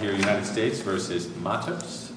here in the United States v. Matos.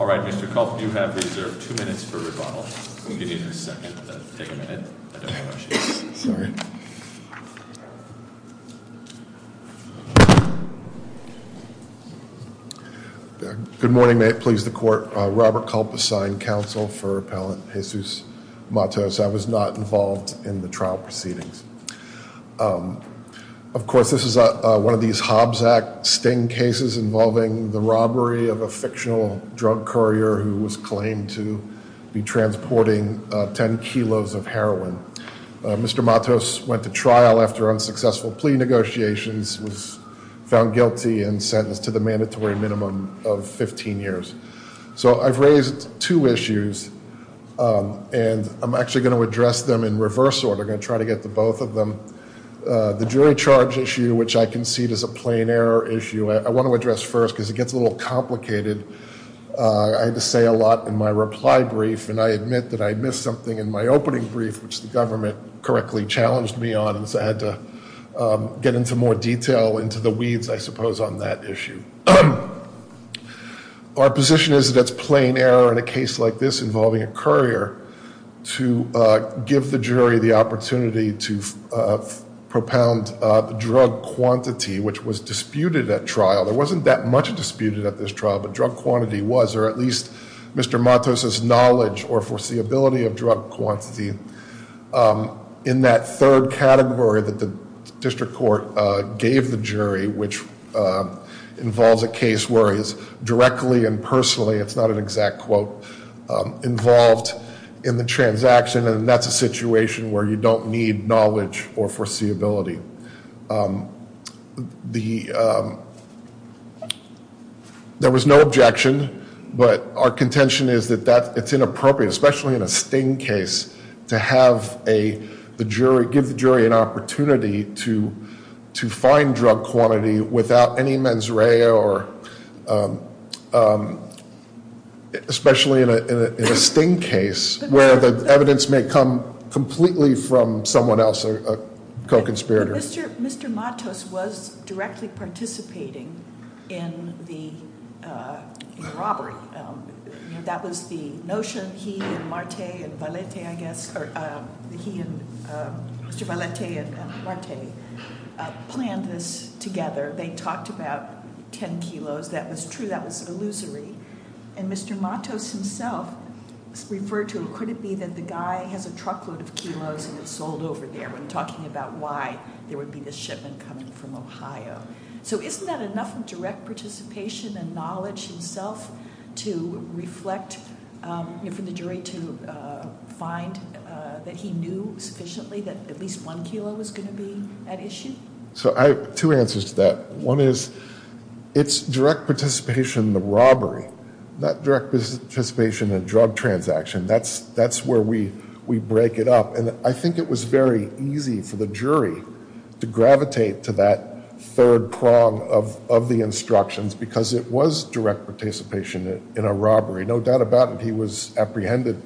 All right, Mr. Kulp, you have reserved two minutes for rebuttal. I'll give you a second to take a minute. Good morning. May it please the court. Robert Kulp, assigned counsel for Appellant Jesus Matos. I was not involved in the trial proceedings. Of course, this is one of these Hobbs Act sting cases involving the robbery of a fictional drug courier who was claimed to be transporting 10 kilos of heroin. Mr. Matos went to trial after unsuccessful plea negotiations, was found guilty and sentenced to the mandatory minimum of 15 years. So I've raised two issues, and I'm actually going to address them in reverse order. I'm going to try to get to both of them. The jury charge issue, which I concede is a plain error issue, I want to address first because it gets a little complicated. I had to say a lot in my reply brief, and I admit that I missed something in my opening brief, which the government correctly challenged me on. So I had to get into more detail into the weeds, I suppose, on that issue. Our position is that it's plain error in a case like this involving a courier to give the jury the opportunity to propound drug quantity, which was disputed at trial. There wasn't that much disputed at this trial, but drug quantity was, or at least Mr. Matos' knowledge or foreseeability of drug quantity. In that third category that the district court gave the jury, which involves a case where it's directly and personally, it's not an exact quote, involved in the transaction, and that's a situation where you don't need knowledge or foreseeability. There was no objection, but our contention is that it's inappropriate, especially in a sting case, to give the jury an opportunity to find drug quantity without any mens rea, especially in a sting case where the evidence may come completely from someone else, a co-conspirator. Mr. Matos was directly participating in the robbery. That was the notion he and Marte and Valete, I guess, or he and Mr. Valete and Marte planned this together. They talked about 10 kilos. That was true. That was illusory, and Mr. Matos himself referred to, could it be that the guy has a truckload of kilos, and it's sold over there when talking about why there would be this shipment coming from Ohio. So isn't that enough of direct participation and knowledge himself to reflect, for the jury to find that he knew sufficiently that at least one kilo was going to be at issue? So I have two answers to that. One is, it's direct participation in the robbery, not direct participation in a drug transaction. That's where we break it up. And I think it was very easy for the jury to gravitate to that third prong of the instructions, because it was direct participation in a robbery. No doubt about it, he was apprehended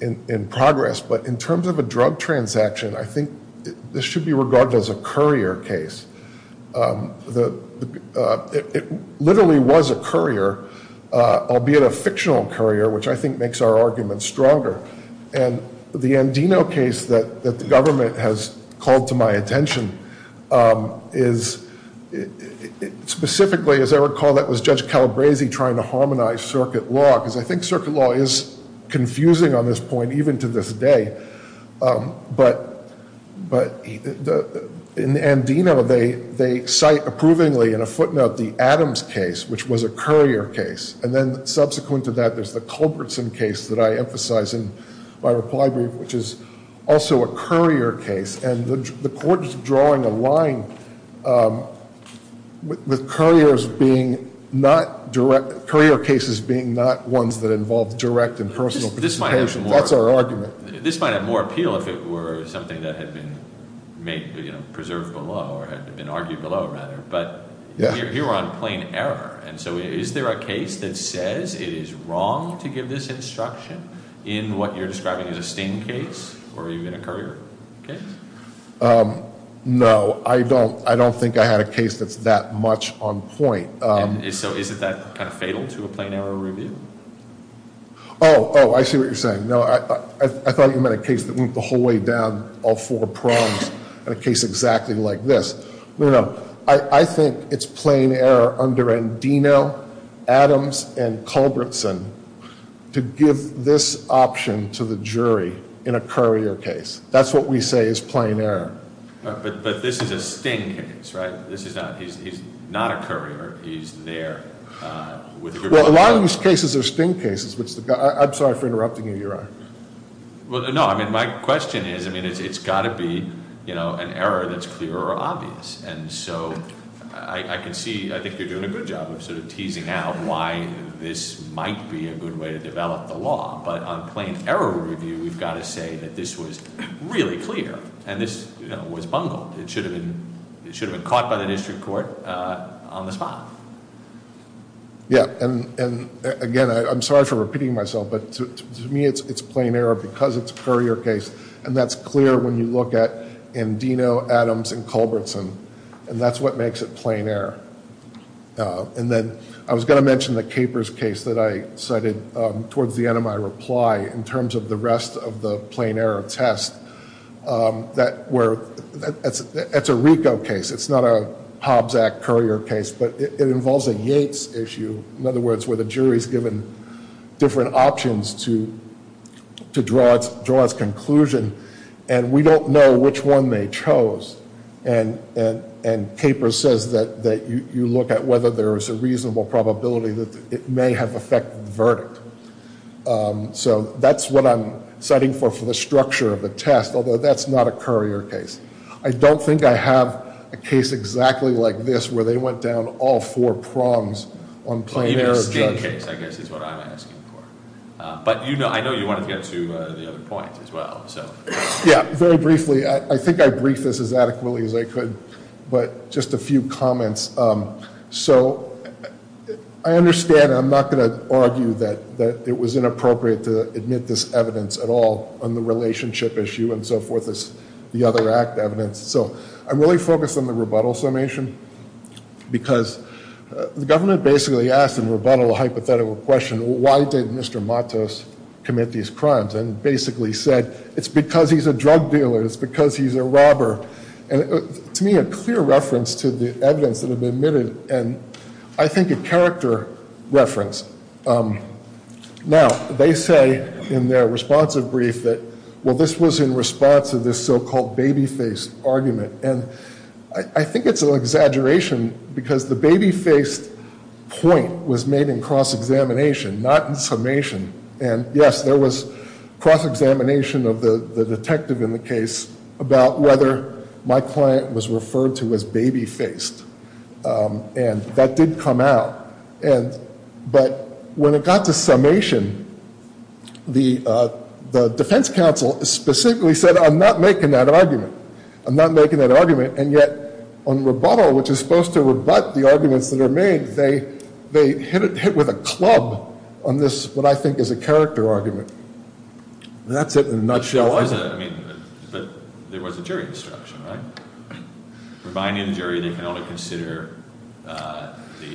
in progress. But in terms of a drug transaction, I think this should be regarded as a courier case. It literally was a courier, albeit a fictional courier, which I think makes our argument stronger. And the Andino case that the government has called to my attention is specifically, as I recall, that was Judge Calabresi trying to harmonize circuit law, because I think circuit law is confusing on this point even to this day. But in Andino, they cite approvingly in a footnote the Adams case, which was a courier case. And then subsequent to that, there's the Culbertson case that I emphasize in my reply brief, which is also a courier case. And the court is drawing a line with courier cases being not ones that involve direct and personal participation. That's our argument. This might have more appeal if it were something that had been preserved below or had been argued below, rather. But here we're on plain error. And so is there a case that says it is wrong to give this instruction in what you're describing as a sting case or even a courier case? No, I don't think I had a case that's that much on point. And so isn't that kind of fatal to a plain error review? Oh, I see what you're saying. No, I thought you meant a case that went the whole way down all four prongs in a case exactly like this. I think it's plain error under Andino, Adams, and Culbertson to give this option to the jury in a courier case. That's what we say is plain error. But this is a sting case, right? He's not a courier. He's there. Well, a lot of these cases are sting cases. I'm sorry for interrupting you, Your Honor. Well, no, I mean, my question is, I mean, it's got to be an error that's clear or obvious. And so I can see, I think you're doing a good job of sort of teasing out why this might be a good way to develop the law. But on plain error review, we've got to say that this was really clear and this was bungled. It should have been caught by the district court on the spot. Yeah, and again, I'm sorry for repeating myself, but to me it's plain error because it's a courier case. And that's clear when you look at Andino, Adams, and Culbertson. And that's what makes it plain error. And then I was going to mention the Capers case that I cited towards the end of my reply in terms of the rest of the plain error test. That's a RICO case. It's not a Hobbs Act courier case, but it involves a Yates issue. In other words, where the jury is given different options to draw its conclusion. And we don't know which one they chose. And Capers says that you look at whether there is a reasonable probability that it may have affected the verdict. So that's what I'm citing for the structure of the test, although that's not a courier case. I don't think I have a case exactly like this where they went down all four prongs on plain error. Even a sting case, I guess, is what I'm asking for. But I know you wanted to get to the other point as well, so. Yeah, very briefly. I think I briefed this as adequately as I could, but just a few comments. So I understand. I'm not going to argue that it was inappropriate to admit this evidence at all on the relationship issue and so forth as the other act evidence. So I'm really focused on the rebuttal summation because the government basically asked in rebuttal a hypothetical question. Why did Mr. Matos commit these crimes? And basically said it's because he's a drug dealer. It's because he's a robber. And to me, a clear reference to the evidence that have been admitted, and I think a character reference. Now, they say in their responsive brief that, well, this was in response to this so-called baby-faced argument. And I think it's an exaggeration because the baby-faced point was made in cross-examination, not in summation. And, yes, there was cross-examination of the detective in the case about whether my client was referred to as baby-faced. And that did come out. But when it got to summation, the defense counsel specifically said, I'm not making that argument. I'm not making that argument. And yet on rebuttal, which is supposed to rebut the arguments that are made, they hit it with a club on this, what I think is a character argument. And that's it in a nutshell. But there was a jury instruction, right? Providing the jury they can only consider the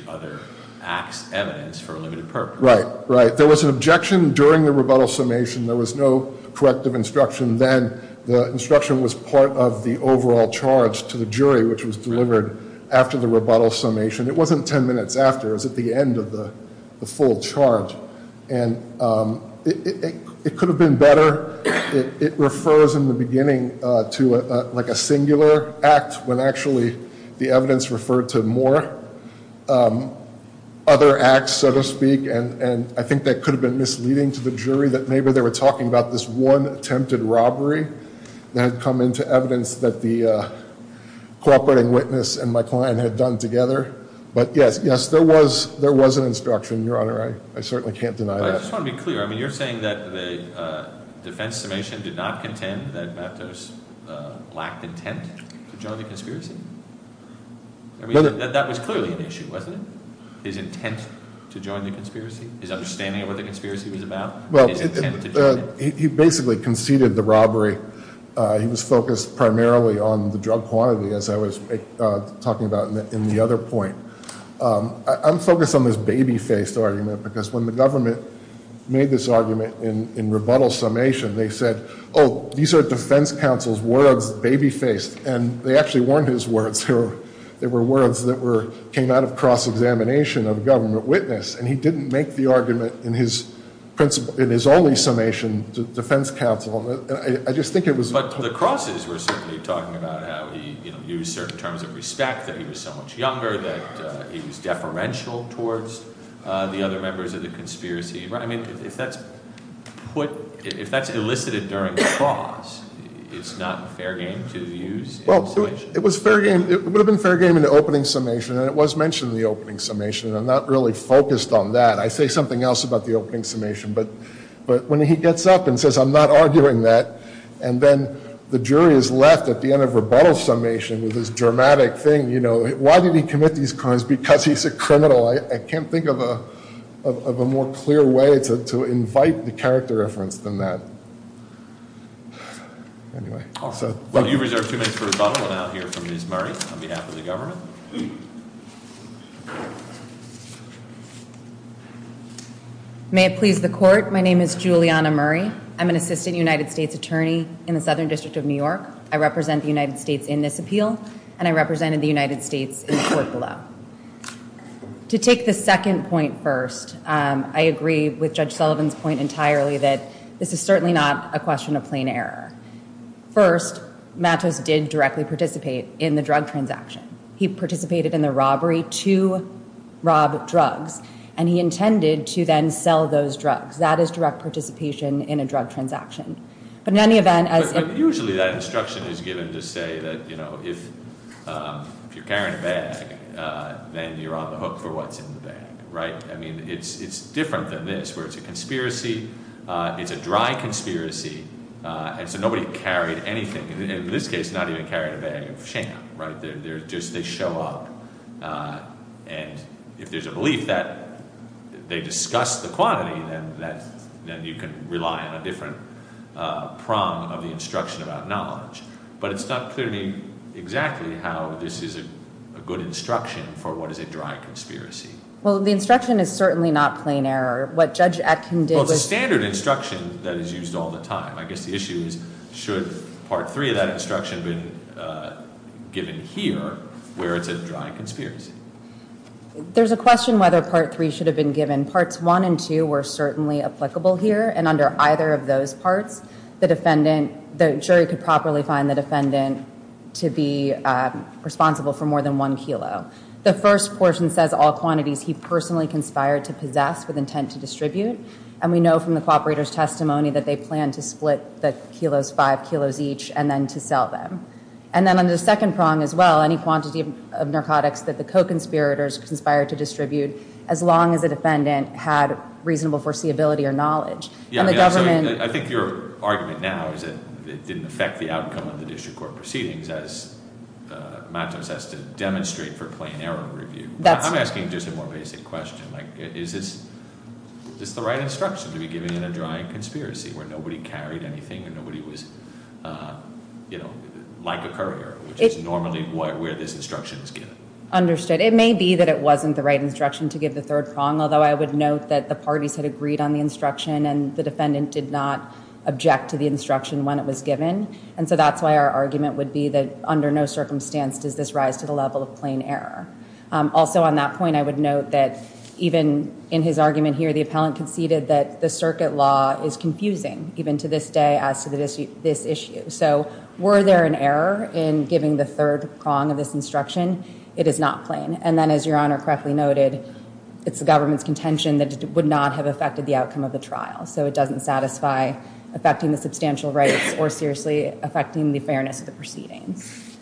other act's evidence for a limited purpose. Right, right. There was an objection during the rebuttal summation. There was no corrective instruction then. The instruction was part of the overall charge to the jury, which was delivered after the rebuttal summation. It wasn't 10 minutes after. It was at the end of the full charge. And it could have been better. It refers in the beginning to like a singular act when actually the evidence referred to more other acts, so to speak. And I think that could have been misleading to the jury that maybe they were talking about this one attempted robbery that had come into evidence that the cooperating witness and my client had done together. But yes, yes, there was an instruction, Your Honor. I certainly can't deny that. I just want to be clear. I mean, you're saying that the defense summation did not contend that Matos lacked intent to join the conspiracy? I mean, that was clearly an issue, wasn't it? His intent to join the conspiracy? His understanding of what the conspiracy was about? Well, he basically conceded the robbery. He was focused primarily on the drug quantity, as I was talking about in the other point. I'm focused on this baby-faced argument because when the government made this argument in rebuttal summation, they said, oh, these are defense counsel's words, baby-faced. And they actually weren't his words. They were words that came out of cross-examination of a government witness, and he didn't make the argument in his only summation defense counsel. I just think it was— But the crosses were certainly talking about how he used certain terms of respect, that he was so much younger, that he was deferential towards the other members of the conspiracy. I mean, if that's put—if that's elicited during the cross, it's not fair game to use in summation? Well, it was fair game—it would have been fair game in the opening summation, and it was mentioned in the opening summation. I'm not really focused on that. I say something else about the opening summation. But when he gets up and says, I'm not arguing that, and then the jury is left at the end of rebuttal summation with this dramatic thing, you know, why did he commit these crimes? Because he's a criminal. I can't think of a more clear way to invite the character reference than that. Anyway, so— Well, you've reserved two minutes for rebuttal. We'll now hear from Ms. Murray on behalf of the government. May it please the Court, my name is Juliana Murray. I'm an assistant United States attorney in the Southern District of New York. I represent the United States in this appeal, and I represented the United States in the court below. To take the second point first, I agree with Judge Sullivan's point entirely that this is certainly not a question of plain error. First, Mattos did directly participate in the drug transaction. He participated in the robbery to rob drugs, and he intended to then sell those drugs. That is direct participation in a drug transaction. But in any event, as— But usually that instruction is given to say that, you know, if you're carrying a bag, then you're on the hook for what's in the bag, right? I mean, it's different than this, where it's a conspiracy, it's a dry conspiracy, and so nobody carried anything. And in this case, not even carried a bag of shampoo, right? They're just—they show up, and if there's a belief that they discussed the quantity, then you can rely on a different prong of the instruction about knowledge. But it's not clearly exactly how this is a good instruction for what is a dry conspiracy. Well, the instruction is certainly not plain error. What Judge Atkin did was— Well, it's a standard instruction that is used all the time. I guess the issue is, should Part 3 of that instruction have been given here, where it's a dry conspiracy? There's a question whether Part 3 should have been given. Parts 1 and 2 were certainly applicable here. And under either of those parts, the defendant—the jury could properly find the defendant to be responsible for more than one kilo. The first portion says all quantities he personally conspired to possess with intent to distribute. And we know from the cooperator's testimony that they planned to split the kilos, five kilos each, and then to sell them. And then under the second prong as well, any quantity of narcotics that the co-conspirators conspired to distribute, as long as the defendant had reasonable foreseeability or knowledge. And the government— I think your argument now is that it didn't affect the outcome of the district court proceedings, as Matos has to demonstrate for plain error review. I'm asking just a more basic question. Like, is this the right instruction to be given in a dry conspiracy, where nobody carried anything and nobody was, you know, like a courier, which is normally where this instruction is given? Understood. It may be that it wasn't the right instruction to give the third prong, although I would note that the parties had agreed on the instruction and the defendant did not object to the instruction when it was given. And so that's why our argument would be that under no circumstance does this rise to the level of plain error. Also on that point, I would note that even in his argument here, the appellant conceded that the circuit law is confusing, even to this day, as to this issue. So were there an error in giving the third prong of this instruction? It is not plain. And then as your Honor correctly noted, it's the government's contention that it would not have affected the outcome of the trial. So it doesn't satisfy affecting the substantial rights or seriously affecting the fairness of the proceedings.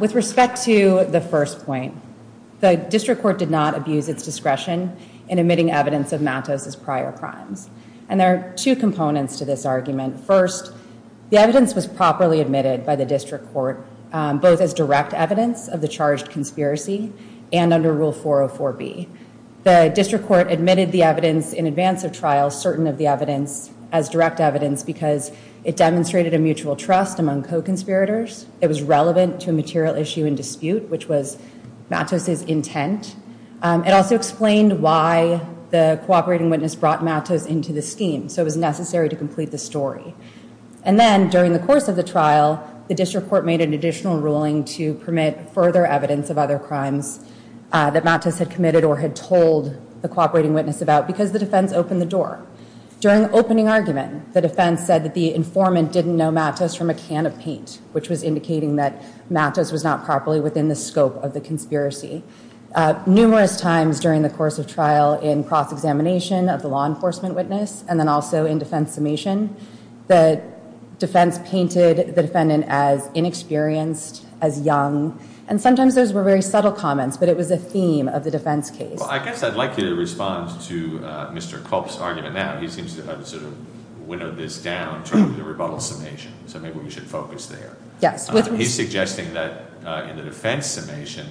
With respect to the first point, the district court did not abuse its discretion in admitting evidence of Matos' prior crimes. And there are two components to this argument. First, the evidence was properly admitted by the district court, both as direct evidence of the charged conspiracy and under Rule 404B. The district court admitted the evidence in advance of trial, certain of the evidence as direct evidence, because it demonstrated a mutual trust among co-conspirators. It was relevant to a material issue in dispute, which was Matos' intent. It also explained why the cooperating witness brought Matos into the scheme. So it was necessary to complete the story. And then during the course of the trial, the district court made an additional ruling to permit further evidence of other crimes that Matos had committed or had told the cooperating witness about, because the defense opened the door. During the opening argument, the defense said that the informant didn't know Matos from a can of paint, which was indicating that Matos was not properly within the scope of the conspiracy. Numerous times during the course of trial in cross-examination of the law enforcement witness and then also in defense summation, the defense painted the defendant as inexperienced, as young. And sometimes those were very subtle comments, but it was a theme of the defense case. Well, I guess I'd like you to respond to Mr. Culp's argument now. He seems to have sort of winnowed this down to the rebuttal summation. So maybe we should focus there. He's suggesting that in the defense summation,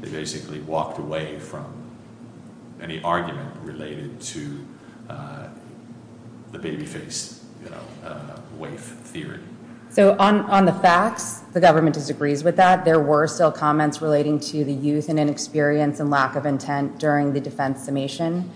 they basically walked away from any argument related to the baby face waif theory. So on the facts, the government disagrees with that. There were still comments relating to the youth and inexperience and lack of intent during the defense summation.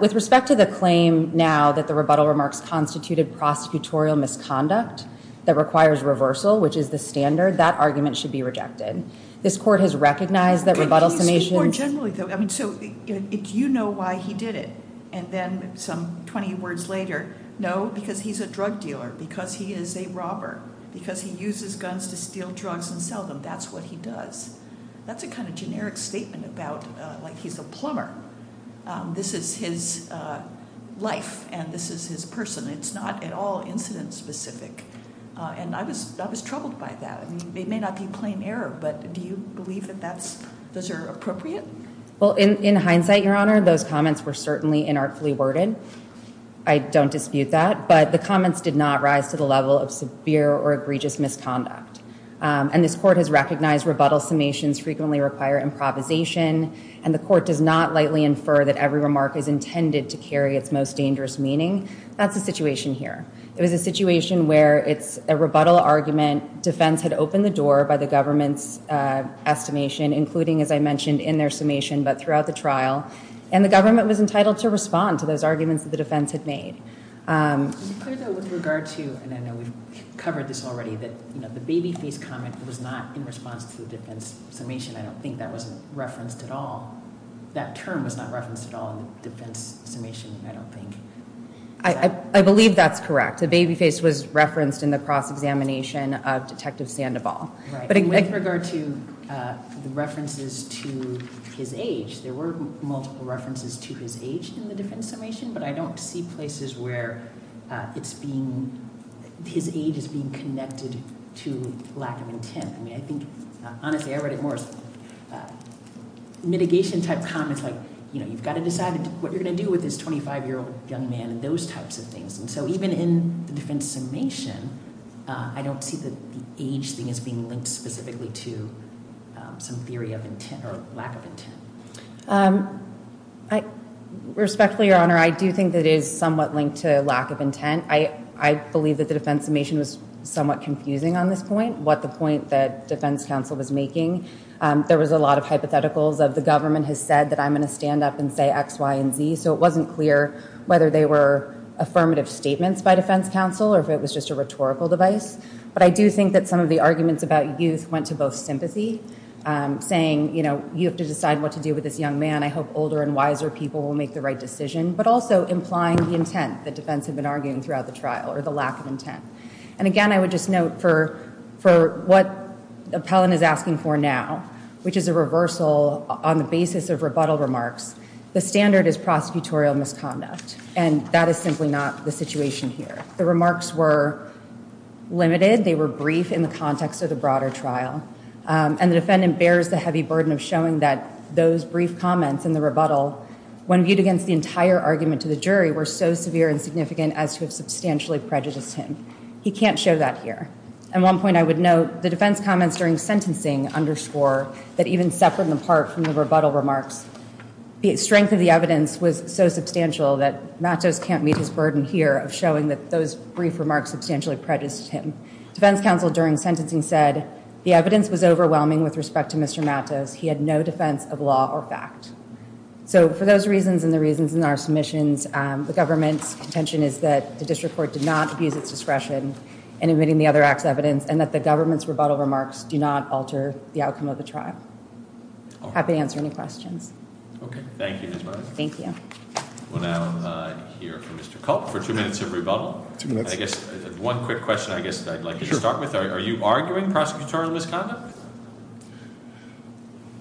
With respect to the claim now that the rebuttal remarks constituted prosecutorial misconduct that requires reversal, which is the standard, that argument should be rejected. This court has recognized the rebuttal summation. More generally, though, I mean, so do you know why he did it? And then some 20 words later, no, because he's a drug dealer, because he is a robber, because he uses guns to steal drugs and sell them. That's what he does. That's a kind of generic statement about like he's a plumber. This is his life and this is his person. It's not at all incident specific. And I was I was troubled by that. It may not be plain error, but do you believe that that's those are appropriate? Well, in hindsight, your honor, those comments were certainly inartfully worded. I don't dispute that. But the comments did not rise to the level of severe or egregious misconduct. And this court has recognized rebuttal summations frequently require improvisation. And the court does not lightly infer that every remark is intended to carry its most dangerous meaning. That's the situation here. It was a situation where it's a rebuttal argument. Defense had opened the door by the government's estimation, including, as I mentioned, in their summation, but throughout the trial. And the government was entitled to respond to those arguments that the defense had made with regard to. And I know we've covered this already, that the baby face comment was not in response to the defense summation. I don't think that was referenced at all. That term was not referenced at all in the defense summation. I believe that's correct. The baby face was referenced in the cross examination of Detective Sandoval. But with regard to the references to his age, there were multiple references to his age in the defense summation. But I don't see places where it's being his age is being connected to lack of intent. Honestly, I read it more as mitigation type comments. You've got to decide what you're going to do with this 25-year-old young man and those types of things. So even in the defense summation, I don't see the age thing as being linked specifically to some theory of lack of intent. Respectfully, Your Honor, I do think it is somewhat linked to lack of intent. I believe that the defense summation was somewhat confusing on this point. What the point that defense counsel was making. There was a lot of hypotheticals of the government has said that I'm going to stand up and say X, Y, and Z. So it wasn't clear whether they were affirmative statements by defense counsel or if it was just a rhetorical device. But I do think that some of the arguments about youth went to both sympathy, saying, you know, you have to decide what to do with this young man. I hope older and wiser people will make the right decision. But also implying the intent that defense had been arguing throughout the trial or the lack of intent. And again, I would just note for what Appellant is asking for now, which is a reversal on the basis of rebuttal remarks, the standard is prosecutorial misconduct. And that is simply not the situation here. The remarks were limited. They were brief in the context of the broader trial. And the defendant bears the heavy burden of showing that those brief comments in the rebuttal, when viewed against the entire argument to the jury, were so severe and significant as to have substantially prejudiced him. He can't show that here. And one point I would note, the defense comments during sentencing underscore that even separate and apart from the rebuttal remarks, the strength of the evidence was so substantial that Mattos can't meet his burden here of showing that those brief remarks substantially prejudiced him. Defense counsel during sentencing said the evidence was overwhelming with respect to Mr. Mattos. He had no defense of law or fact. So for those reasons and the reasons in our submissions, the government's contention is that the district court did not abuse its discretion in admitting the other act's evidence and that the government's rebuttal remarks do not alter the outcome of the trial. Happy to answer any questions. Okay. Thank you, Ms. Matos. Thank you. We'll now hear from Mr. Culp for two minutes of rebuttal. I guess one quick question I guess I'd like to start with. Are you arguing prosecutorial misconduct?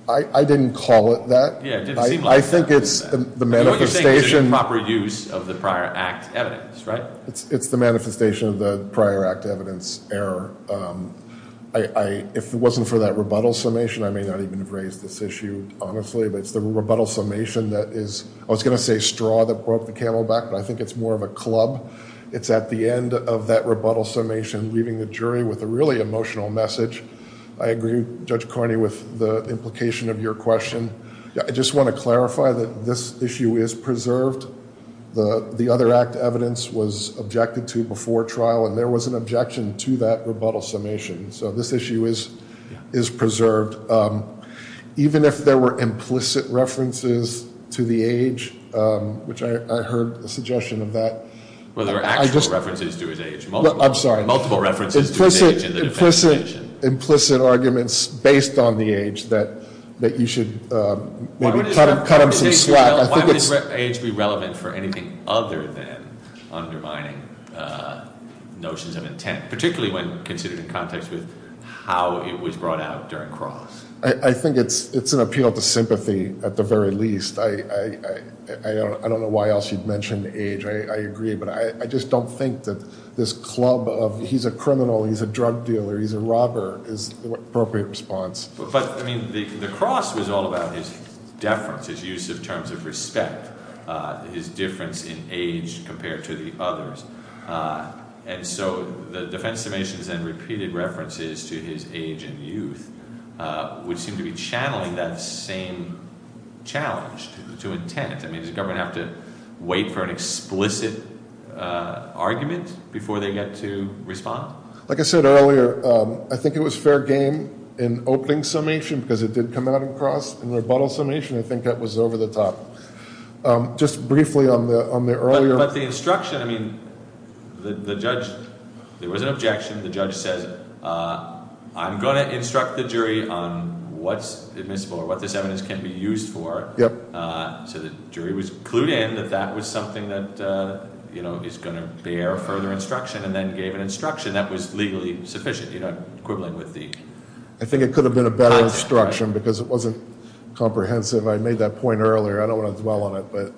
I didn't call it that. I think it's the manifestation. What you're saying is improper use of the prior act evidence, right? It's the manifestation of the prior act evidence error. If it wasn't for that rebuttal summation, I may not even have raised this issue honestly, but it's the rebuttal summation that is, I was going to say straw that broke the camel back, but I think it's more of a club. It's at the end of that rebuttal summation, leaving the jury with a really emotional message. I agree, Judge Carney, with the implication of your question. I just want to clarify that this issue is preserved. The other act evidence was objected to before trial, and there was an objection to that rebuttal summation. So this issue is preserved. Even if there were implicit references to the age, which I heard a suggestion of that. Well, there were actual references to his age. I'm sorry. Multiple references to his age in the defense. Implicit arguments based on the age that you should maybe cut him some slack. Why would age be relevant for anything other than undermining notions of intent, particularly when considered in context with how it was brought out during cross? I think it's an appeal to sympathy at the very least. I don't know why else you'd mention age. I agree, but I just don't think that this club of he's a criminal, he's a drug dealer, he's a robber is the appropriate response. But, I mean, the cross was all about his deference, his use of terms of respect, his difference in age compared to the others. And so the defense summations and repeated references to his age and youth would seem to be channeling that same challenge to intent. I mean, does the government have to wait for an explicit argument before they get to respond? Like I said earlier, I think it was fair game in opening summation because it did come out in cross. In rebuttal summation, I think that was over the top. Just briefly on the earlier. But the instruction, I mean, the judge, there was an objection. The judge says, I'm going to instruct the jury on what's admissible or what this evidence can be used for. So the jury was clued in that that was something that is going to bear further instruction and then gave an instruction that was legally sufficient. Equivalent with the. I think it could have been a better instruction because it wasn't comprehensive. I made that point earlier. I don't want to dwell on it,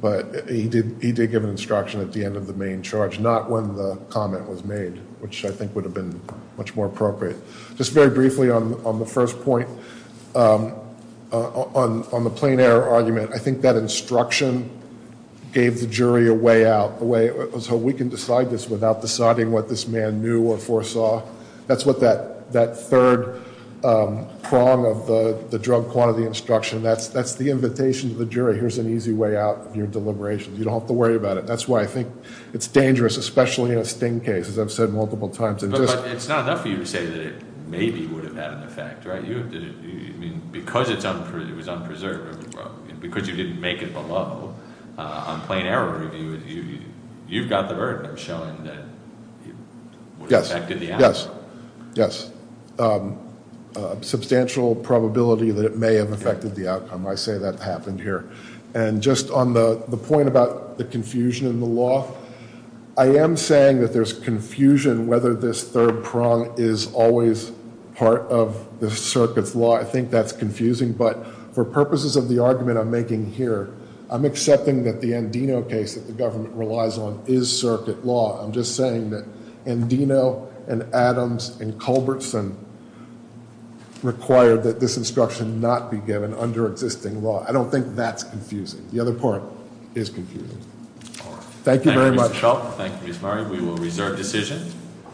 but he did give an instruction at the end of the main charge, not when the comment was made, which I think would have been much more appropriate. Just very briefly on the first point, on the plain error argument. I think that instruction gave the jury a way out. So we can decide this without deciding what this man knew or foresaw. That's what that third prong of the drug quantity instruction. That's the invitation to the jury. Here's an easy way out of your deliberations. You don't have to worry about it. That's why I think it's dangerous, especially in a sting case, as I've said multiple times. But it's not enough for you to say that it maybe would have had an effect, right? Because it was unpreserved, because you didn't make it below on plain error review, you've got the burden of showing that it would have affected the outcome. Yes. Yes. Substantial probability that it may have affected the outcome. I say that happened here. And just on the point about the confusion in the law, I am saying that there's confusion whether this third prong is always part of the circuit's law. I think that's confusing. But for purposes of the argument I'm making here, I'm accepting that the Andino case that the government relies on is circuit law. I'm just saying that Andino and Adams and Culbertson require that this instruction not be given under existing law. I don't think that's confusing. The other part is confusing. All right. Thank you very much. Thank you, Mr. Schultz. Thank you, Ms. Murray. We will reserve decision.